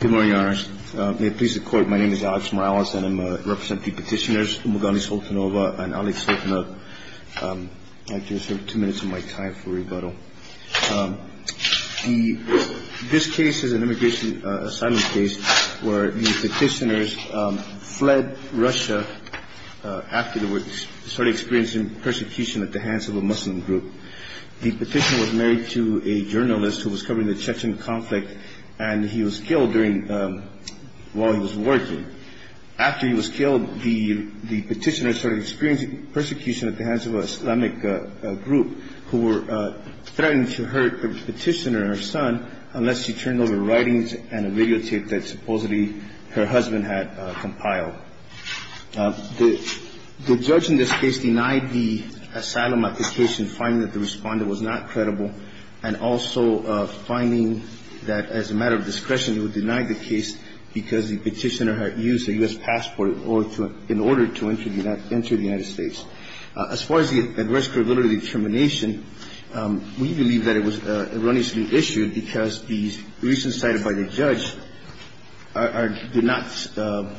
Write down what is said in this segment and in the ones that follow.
Good morning, Your Honor. May it please the Court, my name is Alex Morales and I represent the petitioners Umugandi Soltanova and Alex Soltanova. I just have two minutes of my time for rebuttal. This case is an immigration asylum case where the petitioners fled Russia after they started experiencing persecution at the hands of a Muslim group. The petitioner was married to a journalist who was covering the Chechen conflict and he was killed while he was working. After he was killed, the petitioners started experiencing persecution at the hands of an Islamic group who were threatening to hurt the petitioner and her son unless she turned over writings and a videotape that supposedly her husband had compiled. The judge in this case denied the asylum application, finding that the respondent was not credible, and also finding that as a matter of discretion he would deny the case because the petitioner had used a U.S. passport in order to enter the United States. As far as the risk-availability determination, we believe that it was erroneously issued because the reasons cited by the judge are that the petitioner did not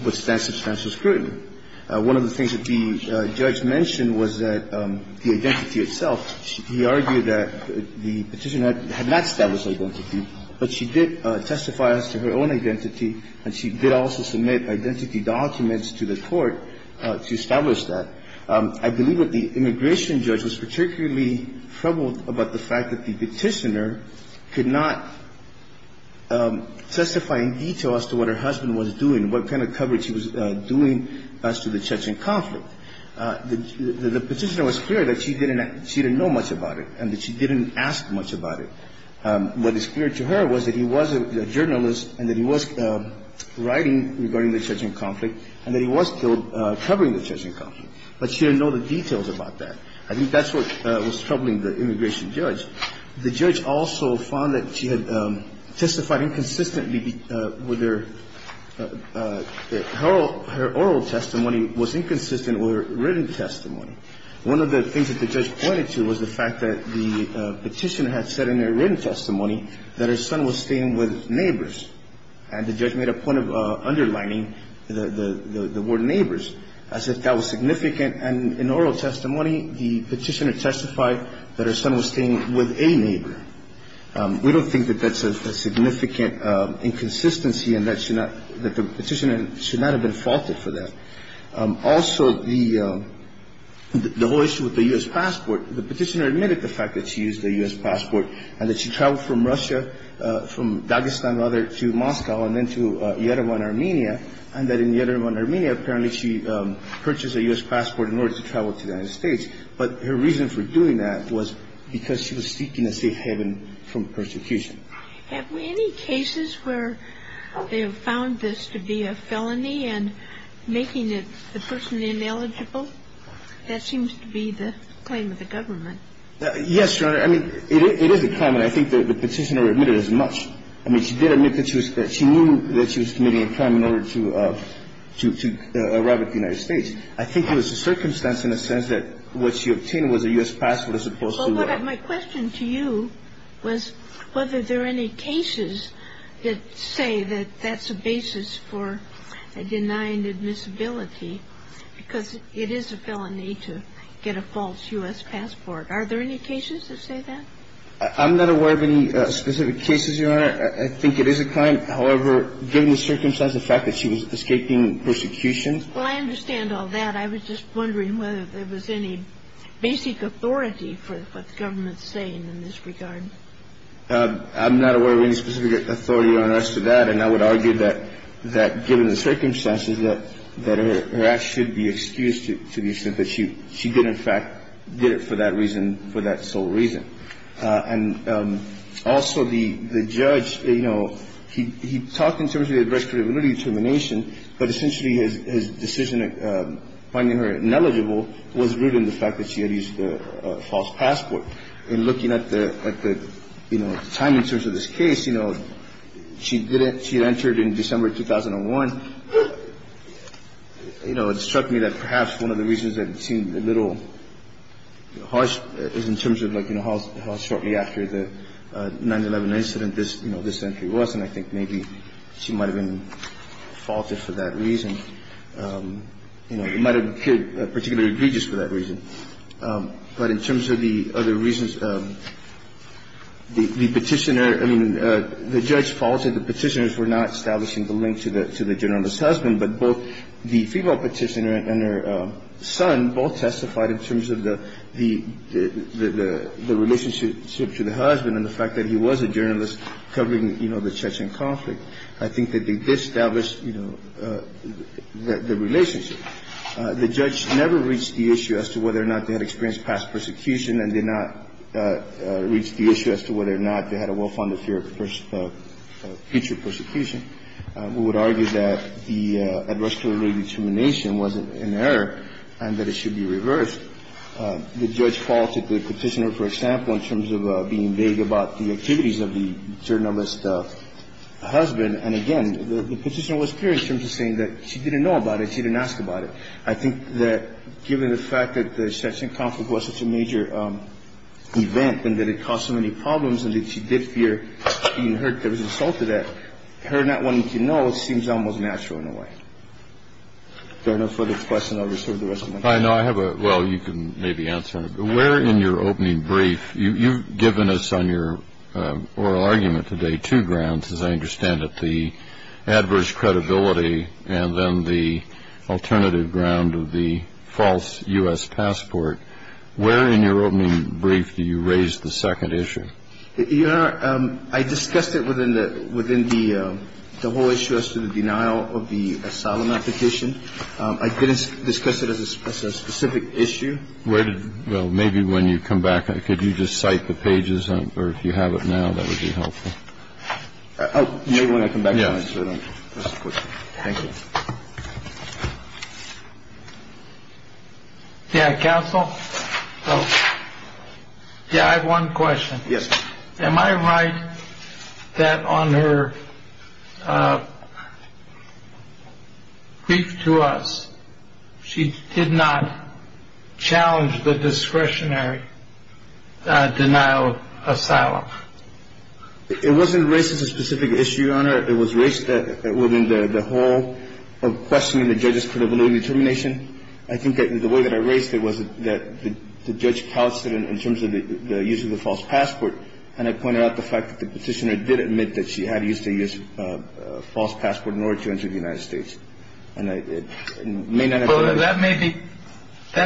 withstand substantial scrutiny. One of the things that the judge mentioned was that the identity itself, he argued that the petitioner had not established identity, but she did testify as to her own identity and she did also submit identity documents to the court to establish that. I believe that the immigration judge was particularly troubled about the fact that the petitioner could not testify in detail as to what her husband was doing, what kind of coverage he was doing as to the Chechen conflict. The petitioner was clear that she didn't know much about it and that she didn't ask much about it. What is clear to her was that he was a journalist and that he was writing regarding the Chechen conflict and that he was killed covering the Chechen conflict, but she didn't know the details about that. I think that's what was troubling the immigration judge. The judge also found that she had testified inconsistently with her oral testimony was inconsistent with her written testimony. One of the things that the judge pointed to was the fact that the petitioner had said in her written testimony that her son was staying with neighbors. And the judge made a point of underlining the word neighbors. I said that was significant. And in oral testimony, the petitioner testified that her son was staying with a neighbor. We don't think that that's a significant inconsistency and that the petitioner should not have been faulted for that. Also, the whole issue with the U.S. passport, the petitioner admitted the fact that she used a U.S. passport and that she traveled from Russia, from Dagestan, rather, to Moscow and then to Yerevan, Armenia, and that in Yerevan, Armenia, apparently, she purchased a U.S. passport in order to travel to the United States. But her reason for doing that was because she was seeking a safe haven from persecution. Have we any cases where they have found this to be a felony and making the person ineligible? That seems to be the claim of the government. Yes, Your Honor. I mean, it is a claim. And I think that the petitioner admitted as much. I mean, she did admit that she knew that she was committing a crime in order to arrive at the United States. I think it was a circumstance in the sense that what she obtained was a U.S. passport as opposed to what — Well, my question to you was whether there are any cases that say that that's a basis for denying admissibility, because it is a felony to get a false U.S. passport. Are there any cases that say that? I'm not aware of any specific cases, Your Honor. I think it is a crime. However, given the circumstance, the fact that she was escaping persecution — Well, I understand all that. I was just wondering whether there was any basic authority for what the government is saying in this regard. I'm not aware of any specific authority, Your Honor, as to that. And I would argue that given the circumstances, that her act should be excused to the extent that she did, and, in fact, did it for that reason, for that sole reason. And also, the judge, you know, he talked in terms of the addressability determination, but essentially his decision finding her ineligible was rooted in the fact that she had used a false passport. And looking at the, like, the, you know, timing in terms of this case, you know, she did it. She had entered in December 2001. You know, it struck me that perhaps one of the reasons that it seemed a little harsh is in terms of, like, you know, how shortly after the 9-11 incident this, you know, this entry was. And I think maybe she might have been faulted for that reason. You know, it might have appeared particularly egregious for that reason. But in terms of the other reasons, the Petitioner — I mean, the judge faulted the Petitioners for not establishing the link to the journalist's husband, but both the female Petitioner and her son both testified in terms of the relationship to the husband and the fact that he was a journalist covering, you know, the Chechen conflict. I think that they did establish, you know, the relationship. The judge never reached the issue as to whether or not they had experienced past persecution and did not reach the issue as to whether or not they had a well-founded fear of future persecution. We would argue that the address to the lady's termination was an error and that it should be reversed. The judge faulted the Petitioner, for example, in terms of being vague about the activities of the journalist's husband. And again, the Petitioner was clear in terms of saying that she didn't know about it. She didn't ask about it. I think that given the fact that the Chechen conflict was such a major event and that it caused so many problems and that she did fear being hurt that was insulted at, her not wanting to know seems almost natural in a way. If there are no further questions, I'll reserve the rest of my time. I know. I have a — well, you can maybe answer. Where in your opening brief — you've given us on your oral argument today two grounds, as I understand it, the adverse credibility and then the alternative ground of the false U.S. passport. Where in your opening brief do you raise the second issue? Your Honor, I discussed it within the — within the whole issue as to the denial of the asylum application. I didn't discuss it as a specific issue. Where did — well, maybe when you come back, could you just cite the pages? Or if you have it now, that would be helpful. Oh, maybe when I come back. Thank you. Yeah, counsel. Yeah, I have one question. Yes. Am I right that on her brief to us, she did not challenge the discretionary denial of asylum? It wasn't raised as a specific issue, Your Honor. It was raised within the whole of questioning the judge's credibility and determination. I think that the way that I raised it was that the judge couched it in terms of the use of the false passport, and I pointed out the fact that the petitioner did admit that she had used a false passport in order to enter the United States. And I may not have — Well, that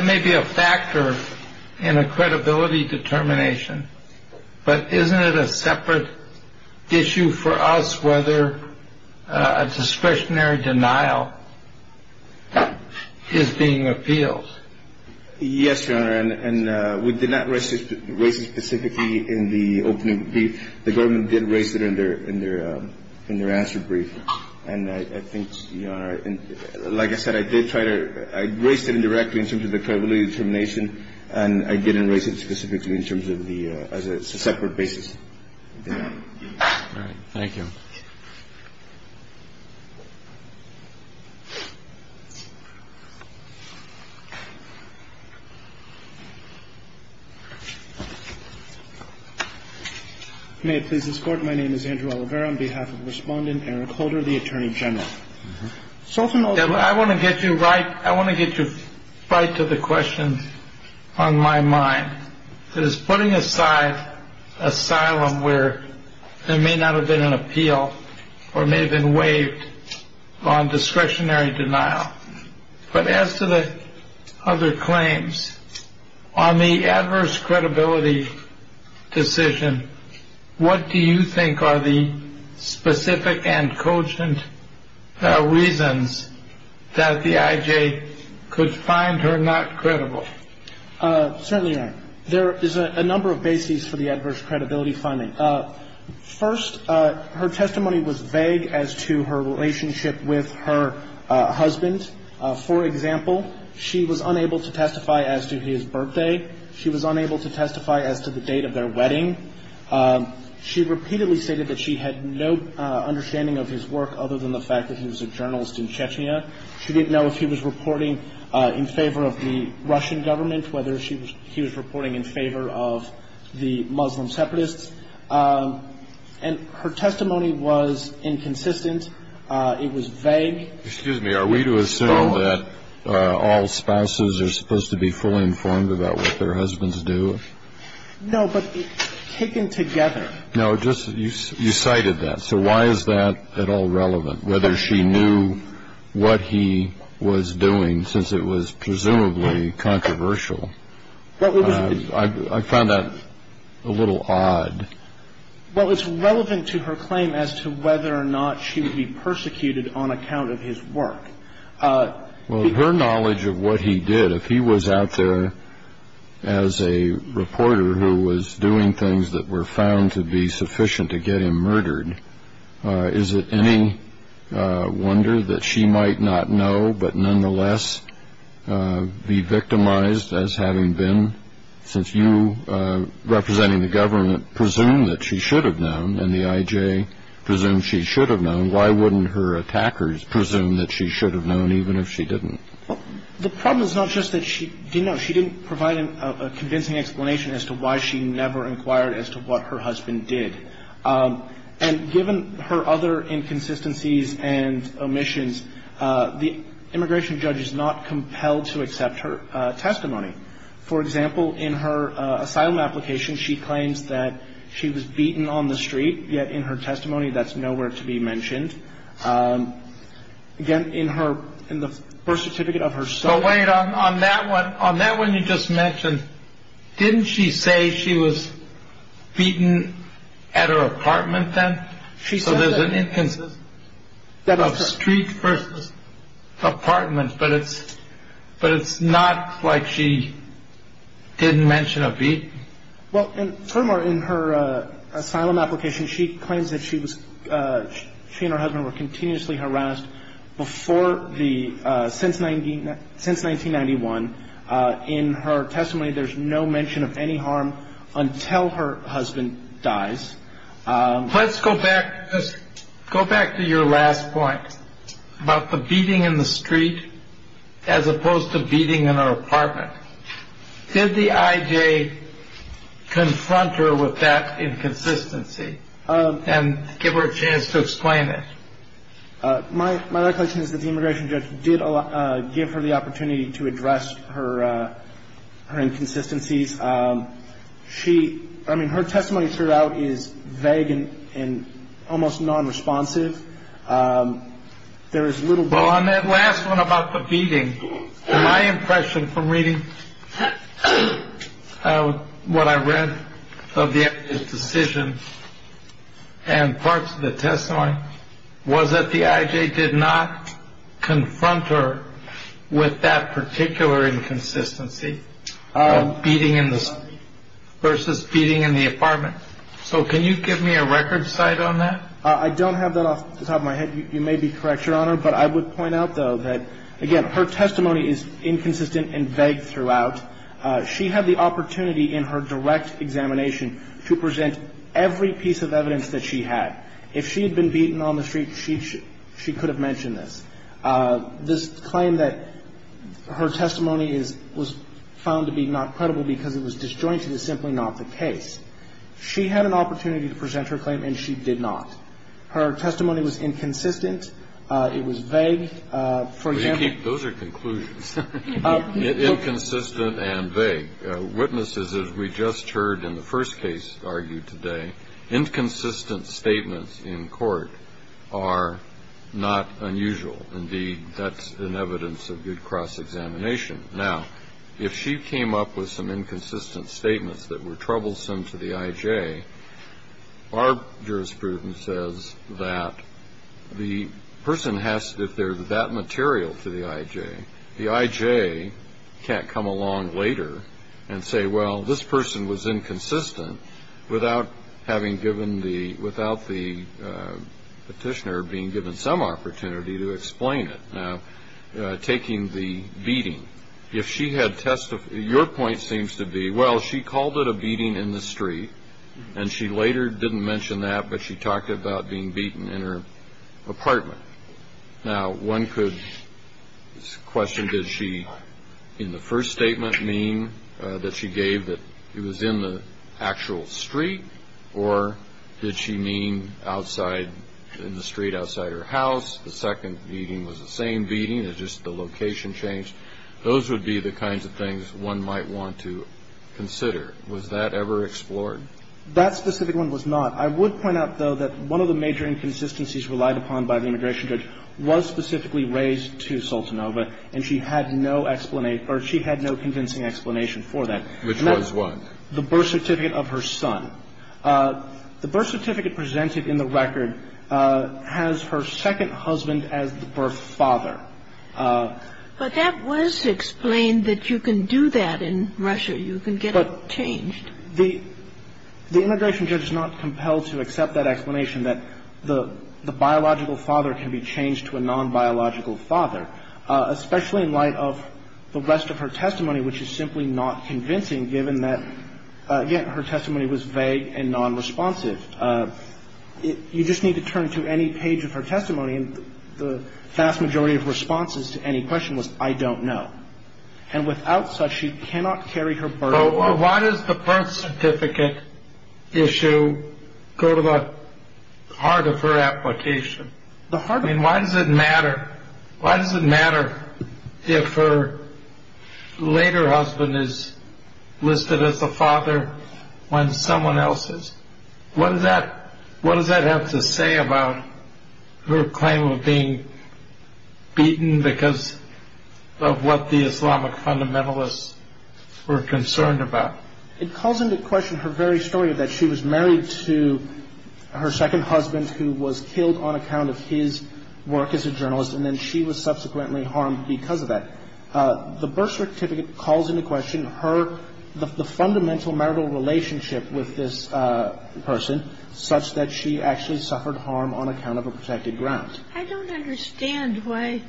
may be a factor in a credibility determination. But isn't it a separate issue for us whether a discretionary denial is being appealed? Yes, Your Honor. And we did not raise it specifically in the opening brief. The government did raise it in their answer brief. And I think, Your Honor, like I said, I did try to — I raised it indirectly in terms of the credibility determination, and I didn't raise it specifically in terms of the — as a separate basis. All right. Thank you. Thank you. May it please this Court, my name is Andrew Oliveira on behalf of Respondent Eric Holder, the Attorney General. I want to get you right — I want to get you right to the question on my mind. That is, putting aside asylum where there may not have been an appeal or may have been waived on discretionary denial. But as to the other claims, on the adverse credibility decision, what do you think are the specific and cogent reasons that the I.J. could find her not credible? Certainly, Your Honor, there is a number of bases for the adverse credibility finding. First, her testimony was vague as to her relationship with her husband. For example, she was unable to testify as to his birthday. She was unable to testify as to the date of their wedding. She repeatedly stated that she had no understanding of his work other than the fact that he was a journalist in Chechnya. She didn't know if he was reporting in favor of the Russian government, whether he was reporting in favor of the Muslim separatists. And her testimony was inconsistent. It was vague. Excuse me. Are we to assume that all spouses are supposed to be fully informed about what their husbands do? No, but taken together. No, just — you cited that. So why is that at all relevant? Whether she knew what he was doing, since it was presumably controversial. I found that a little odd. Well, it's relevant to her claim as to whether or not she would be persecuted on account of his work. Well, her knowledge of what he did, if he was out there as a reporter who was doing things that were found to be sufficient to get him murdered, is it any wonder that she might not know but nonetheless be victimized as having been? Since you, representing the government, presume that she should have known and the I.J. presumes she should have known, why wouldn't her attackers presume that she should have known even if she didn't? Well, the problem is not just that she didn't know. She didn't provide a convincing explanation as to why she never inquired as to what her husband did. And given her other inconsistencies and omissions, the immigration judge is not compelled to accept her testimony. For example, in her asylum application, she claims that she was beaten on the street, yet in her testimony that's nowhere to be mentioned. Again, in her — in the birth certificate of her son — But wait, on that one, on that one you just mentioned, didn't she say she was beaten at her apartment then? So there's an inconsistency of street versus apartment. But it's — but it's not like she didn't mention a beating. Well, and furthermore, in her asylum application, she claims that she was — she and her husband were continuously harassed before the — since 1991. In her testimony, there's no mention of any harm until her husband dies. Let's go back — let's go back to your last point about the beating in the street as opposed to beating in her apartment. Did the I.J. confront her with that inconsistency and give her a chance to explain it? My recollection is that the immigration judge did give her the opportunity to address her inconsistencies. She — I mean, her testimony throughout is vague and almost nonresponsive. There is little — Well, on that last one about the beating, my impression from reading what I read of the decision and parts of the testimony was that the I.J. did not confront her with that particular inconsistency of beating in the street versus beating in the apartment. So can you give me a record cite on that? I don't have that off the top of my head. You may be correct, Your Honor, but I would point out, though, that, again, her testimony is inconsistent and vague throughout. She had the opportunity in her direct examination to present every piece of evidence that she had. If she had been beaten on the street, she could have mentioned this. This claim that her testimony is — was found to be not credible because it was disjointed is simply not the case. She had an opportunity to present her claim, and she did not. Her testimony was inconsistent. It was vague. For example — Those are conclusions, inconsistent and vague. Witnesses, as we just heard in the first case argued today, inconsistent statements in court are not unusual. Indeed, that's an evidence of good cross-examination. Now, if she came up with some inconsistent statements that were troublesome to the I.J., our jurisprudence says that the person has to — if there's that material to the I.J., the I.J. can't come along later and say, well, this person was inconsistent without having given the — without the petitioner being given some opportunity to explain it. Now, taking the beating, if she had testified — your point seems to be, well, she called it a beating in the street, and she later didn't mention that, but she talked about being beaten in her apartment. Now, one could question, did she, in the first statement, mean that she gave that it was in the actual street, or did she mean outside, in the street outside her house? The second beating was the same beating. It's just the location changed. Those would be the kinds of things one might want to consider. Was that ever explored? That specific one was not. I would point out, though, that one of the major inconsistencies relied upon by the immigration judge was specifically raised to Sultanova, and she had no — or she had no convincing explanation for that. Which was what? The birth certificate of her son. The birth certificate presented in the record has her second husband as the birth father. But that was explained that you can do that in Russia. You can get it changed. But the immigration judge is not compelled to accept that explanation, that the biological father can be changed to a nonbiological father, especially in light of the rest of her testimony, which is simply not convincing, given that, again, her testimony was vague and nonresponsive. You just need to turn to any page of her testimony, and the vast majority of responses to any question was, I don't know. And without such, she cannot carry her burden. Why does the birth certificate issue go to the heart of her application? I mean, why does it matter? Why does it matter if her later husband is listed as the father when someone else is? What does that have to say about her claim of being beaten because of what the Islamic fundamentalists were concerned about? It calls into question her very story of that she was married to her second husband who was killed on account of his work as a journalist, and then she was subsequently harmed because of that. The birth certificate calls into question her, the fundamental marital relationship with this person, such that she actually suffered harm on account of a protected ground. I don't understand why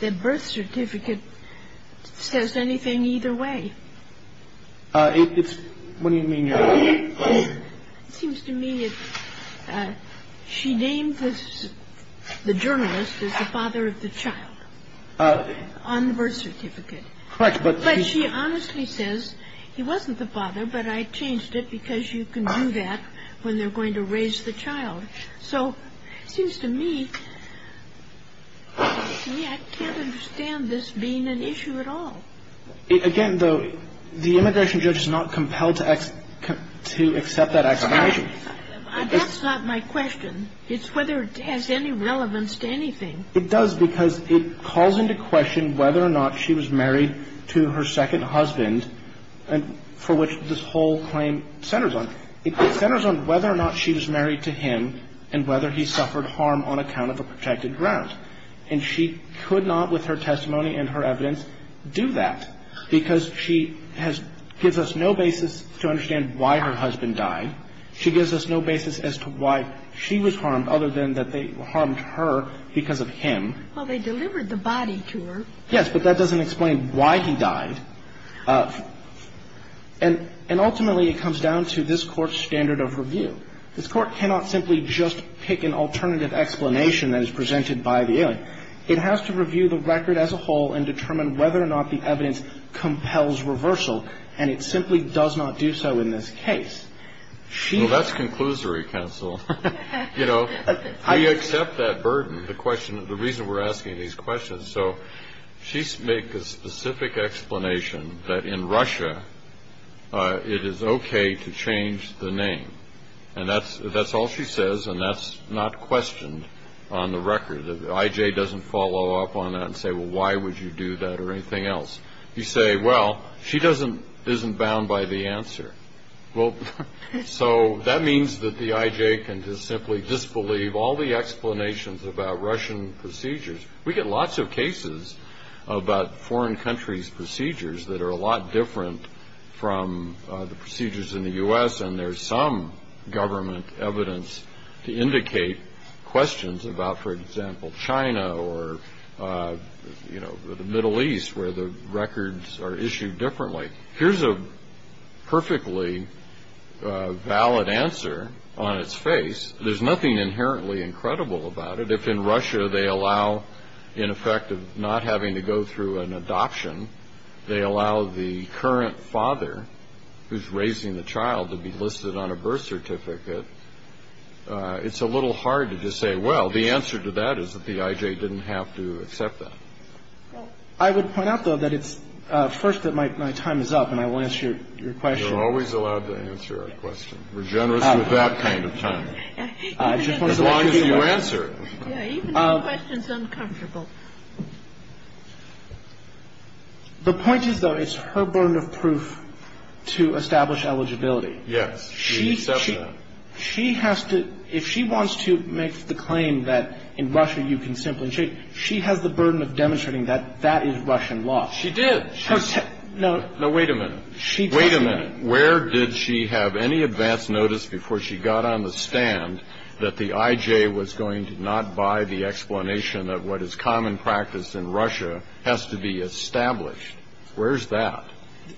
the birth certificate says anything either way. What do you mean? It seems to me that she named the journalist as the father of the child on the birth certificate. Correct. But she honestly says, he wasn't the father, but I changed it because you can do that when they're going to raise the child. So it seems to me, I can't understand this being an issue at all. Again, though, the immigration judge is not compelled to accept that explanation. That's not my question. It's whether it has any relevance to anything. It does because it calls into question whether or not she was married to her second husband, for which this whole claim centers on. It centers on whether or not she was married to him and whether he suffered harm on account of a protected ground. And she could not, with her testimony and her evidence, do that because she has no basis to understand why her husband died. She gives us no basis as to why she was harmed other than that they harmed her because of him. Well, they delivered the body to her. Yes, but that doesn't explain why he died. And ultimately, it comes down to this Court's standard of review. This Court cannot simply just pick an alternative explanation that is presented by the alien. It has to review the record as a whole and determine whether or not the evidence compels reversal. And it simply does not do so in this case. Well, that's conclusory, counsel. You know, we accept that burden, the reason we're asking these questions. So she makes a specific explanation that in Russia it is OK to change the name. And that's all she says. And that's not questioned on the record. The IJ doesn't follow up on that and say, well, why would you do that or anything else? You say, well, she isn't bound by the answer. Well, so that means that the IJ can just simply disbelieve all the explanations about Russian procedures. We get lots of cases about foreign countries' procedures that are a lot different from the procedures in the U.S. and there's some government evidence to indicate questions about, for example, China or, you know, the Middle East where the records are issued differently. Here's a perfectly valid answer on its face. There's nothing inherently incredible about it. If in Russia they allow, in effect, not having to go through an adoption, they allow the current father who's raising the child to be listed on a birth certificate, it's a little hard to just say, well, the answer to that is that the IJ didn't have to accept that. I would point out, though, that it's first that my time is up and I will answer your question. You're always allowed to answer a question. We're generous with that kind of time. As long as you answer it. Even if the question's uncomfortable. The point is, though, it's her burden of proof to establish eligibility. Yes. She has to – if she wants to make the claim that in Russia you can simply – she has the burden of demonstrating that that is Russian law. She did. No. No, wait a minute. Wait a minute. Where did she have any advance notice before she got on the stand that the IJ was going to not buy the explanation that what is common practice in Russia has to be established? Where is that?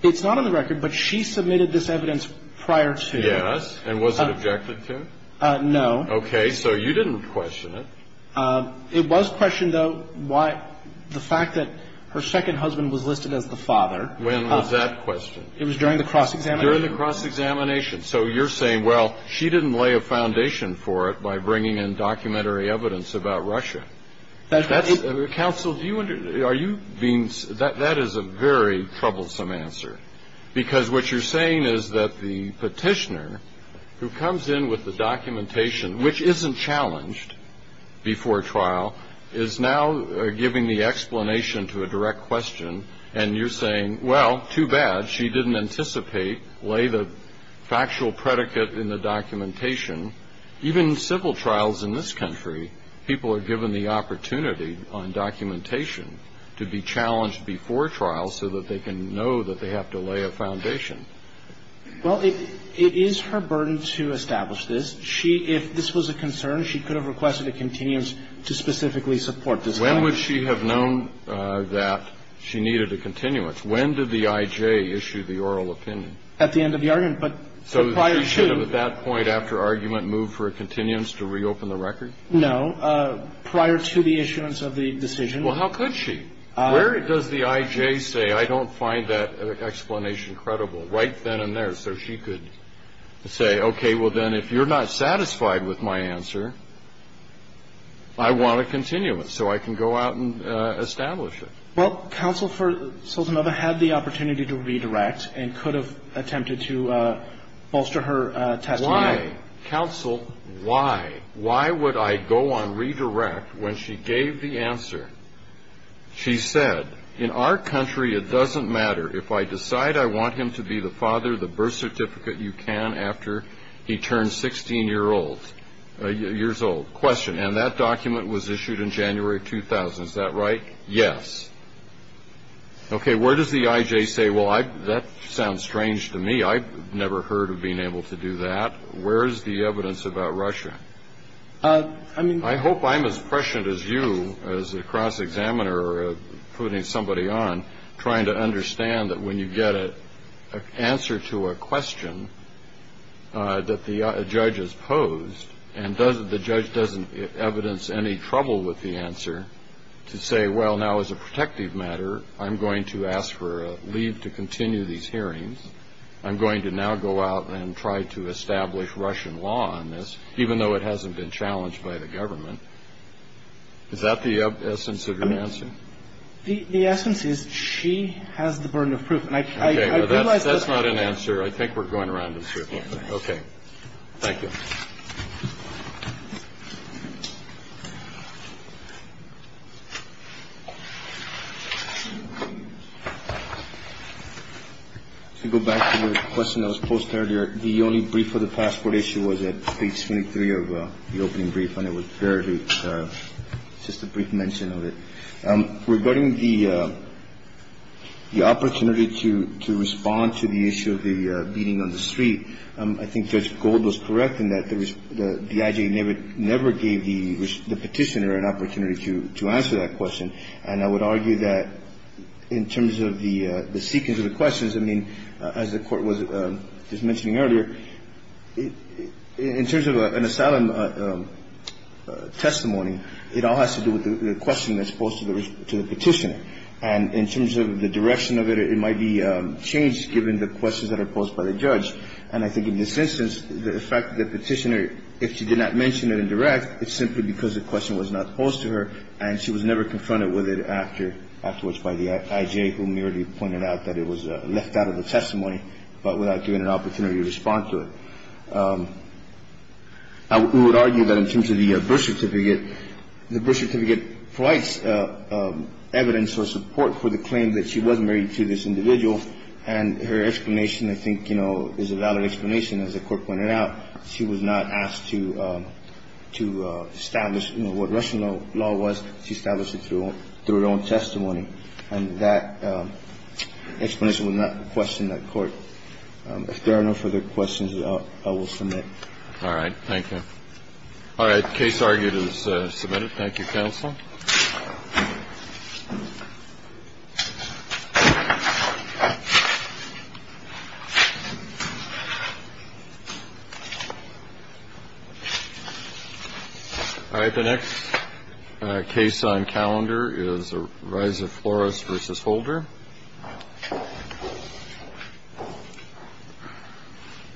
It's not on the record, but she submitted this evidence prior to. Yes. And was it objected to? No. Okay. So you didn't question it. It was questioned, though, why – the fact that her second husband was listed as the father. When was that questioned? It was during the cross-examination. During the cross-examination. So you're saying, well, she didn't lay a foundation for it by bringing in documentary evidence about Russia. Counsel, do you – are you being – that is a very troublesome answer. Because what you're saying is that the petitioner who comes in with the documentation, which isn't challenged before trial, is now giving the explanation to a direct question, and you're saying, well, too bad. She didn't anticipate, lay the factual predicate in the documentation. Even in civil trials in this country, people are given the opportunity on documentation to be challenged before trial so that they can know that they have to lay a foundation. Well, it is her burden to establish this. She – if this was a concern, she could have requested a continuance to specifically support this claim. When would she have known that she needed a continuance? When did the I.J. issue the oral opinion? At the end of the argument. But prior to – So she should have at that point after argument moved for a continuance to reopen the record? No. Prior to the issuance of the decision. Well, how could she? Where does the I.J. say, I don't find that explanation credible? Right then and there. So she could say, okay, well, then if you're not satisfied with my answer, I want a continuance so I can go out and establish it. Well, counsel for Sultanova had the opportunity to redirect and could have attempted to bolster her testimony. Why, counsel, why? Why would I go on redirect when she gave the answer? She said, in our country it doesn't matter if I decide I want him to be the father, the birth certificate you can after he turns 16 years old. Question, and that document was issued in January 2000, is that right? Yes. Okay, where does the I.J. say, well, that sounds strange to me. I've never heard of being able to do that. Where is the evidence about Russia? I hope I'm as prescient as you as a cross-examiner putting somebody on, trying to understand that when you get an answer to a question that the judge has posed and the judge doesn't evidence any trouble with the answer to say, well, now, as a protective matter, I'm going to ask for a leave to continue these hearings. I'm going to now go out and try to establish Russian law on this, even though it hasn't been challenged by the government. Is that the essence of your answer? The essence is she has the burden of proof. Okay, well, that's not an answer. I think we're going around in circles. Okay. Thank you. To go back to the question that was posed earlier, the only brief for the passport issue was at page 23 of the opening brief, and it was barely just a brief mention of it. Regarding the opportunity to respond to the issue of the beating on the street, I think Judge Gold was correct in that the I.J. never gave the Petitioner an opportunity to answer that question, and I would argue that in terms of the sequence of the questions, I mean, as the Court was just mentioning earlier, in terms of an asylum testimony, it all has to do with the question that's posed to the Petitioner. And in terms of the direction of it, it might be changed given the questions that are posed by the judge. And I think in this instance, the fact that the Petitioner, if she did not mention it in direct, it's simply because the question was not posed to her, and she was never confronted with it afterwards by the I.J., whom we already pointed out that it was left out of the testimony, but without given an opportunity to respond to it. We would argue that in terms of the birth certificate, the birth certificate provides evidence or support for the claim that she was married to this individual, and her explanation, I think, you know, is a valid explanation. As the Court pointed out, she was not asked to establish, you know, what Russian law was. She established it through her own testimony. And that explanation would not question the Court. If there are no further questions, I will submit. All right. All right. Case argued is submitted. Thank you, counsel. All right. The next case on calendar is the rise of Flores versus Holder.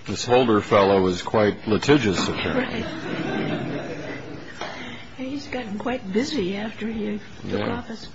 This Holder fellow is quite litigious. He's gotten quite busy after he took office.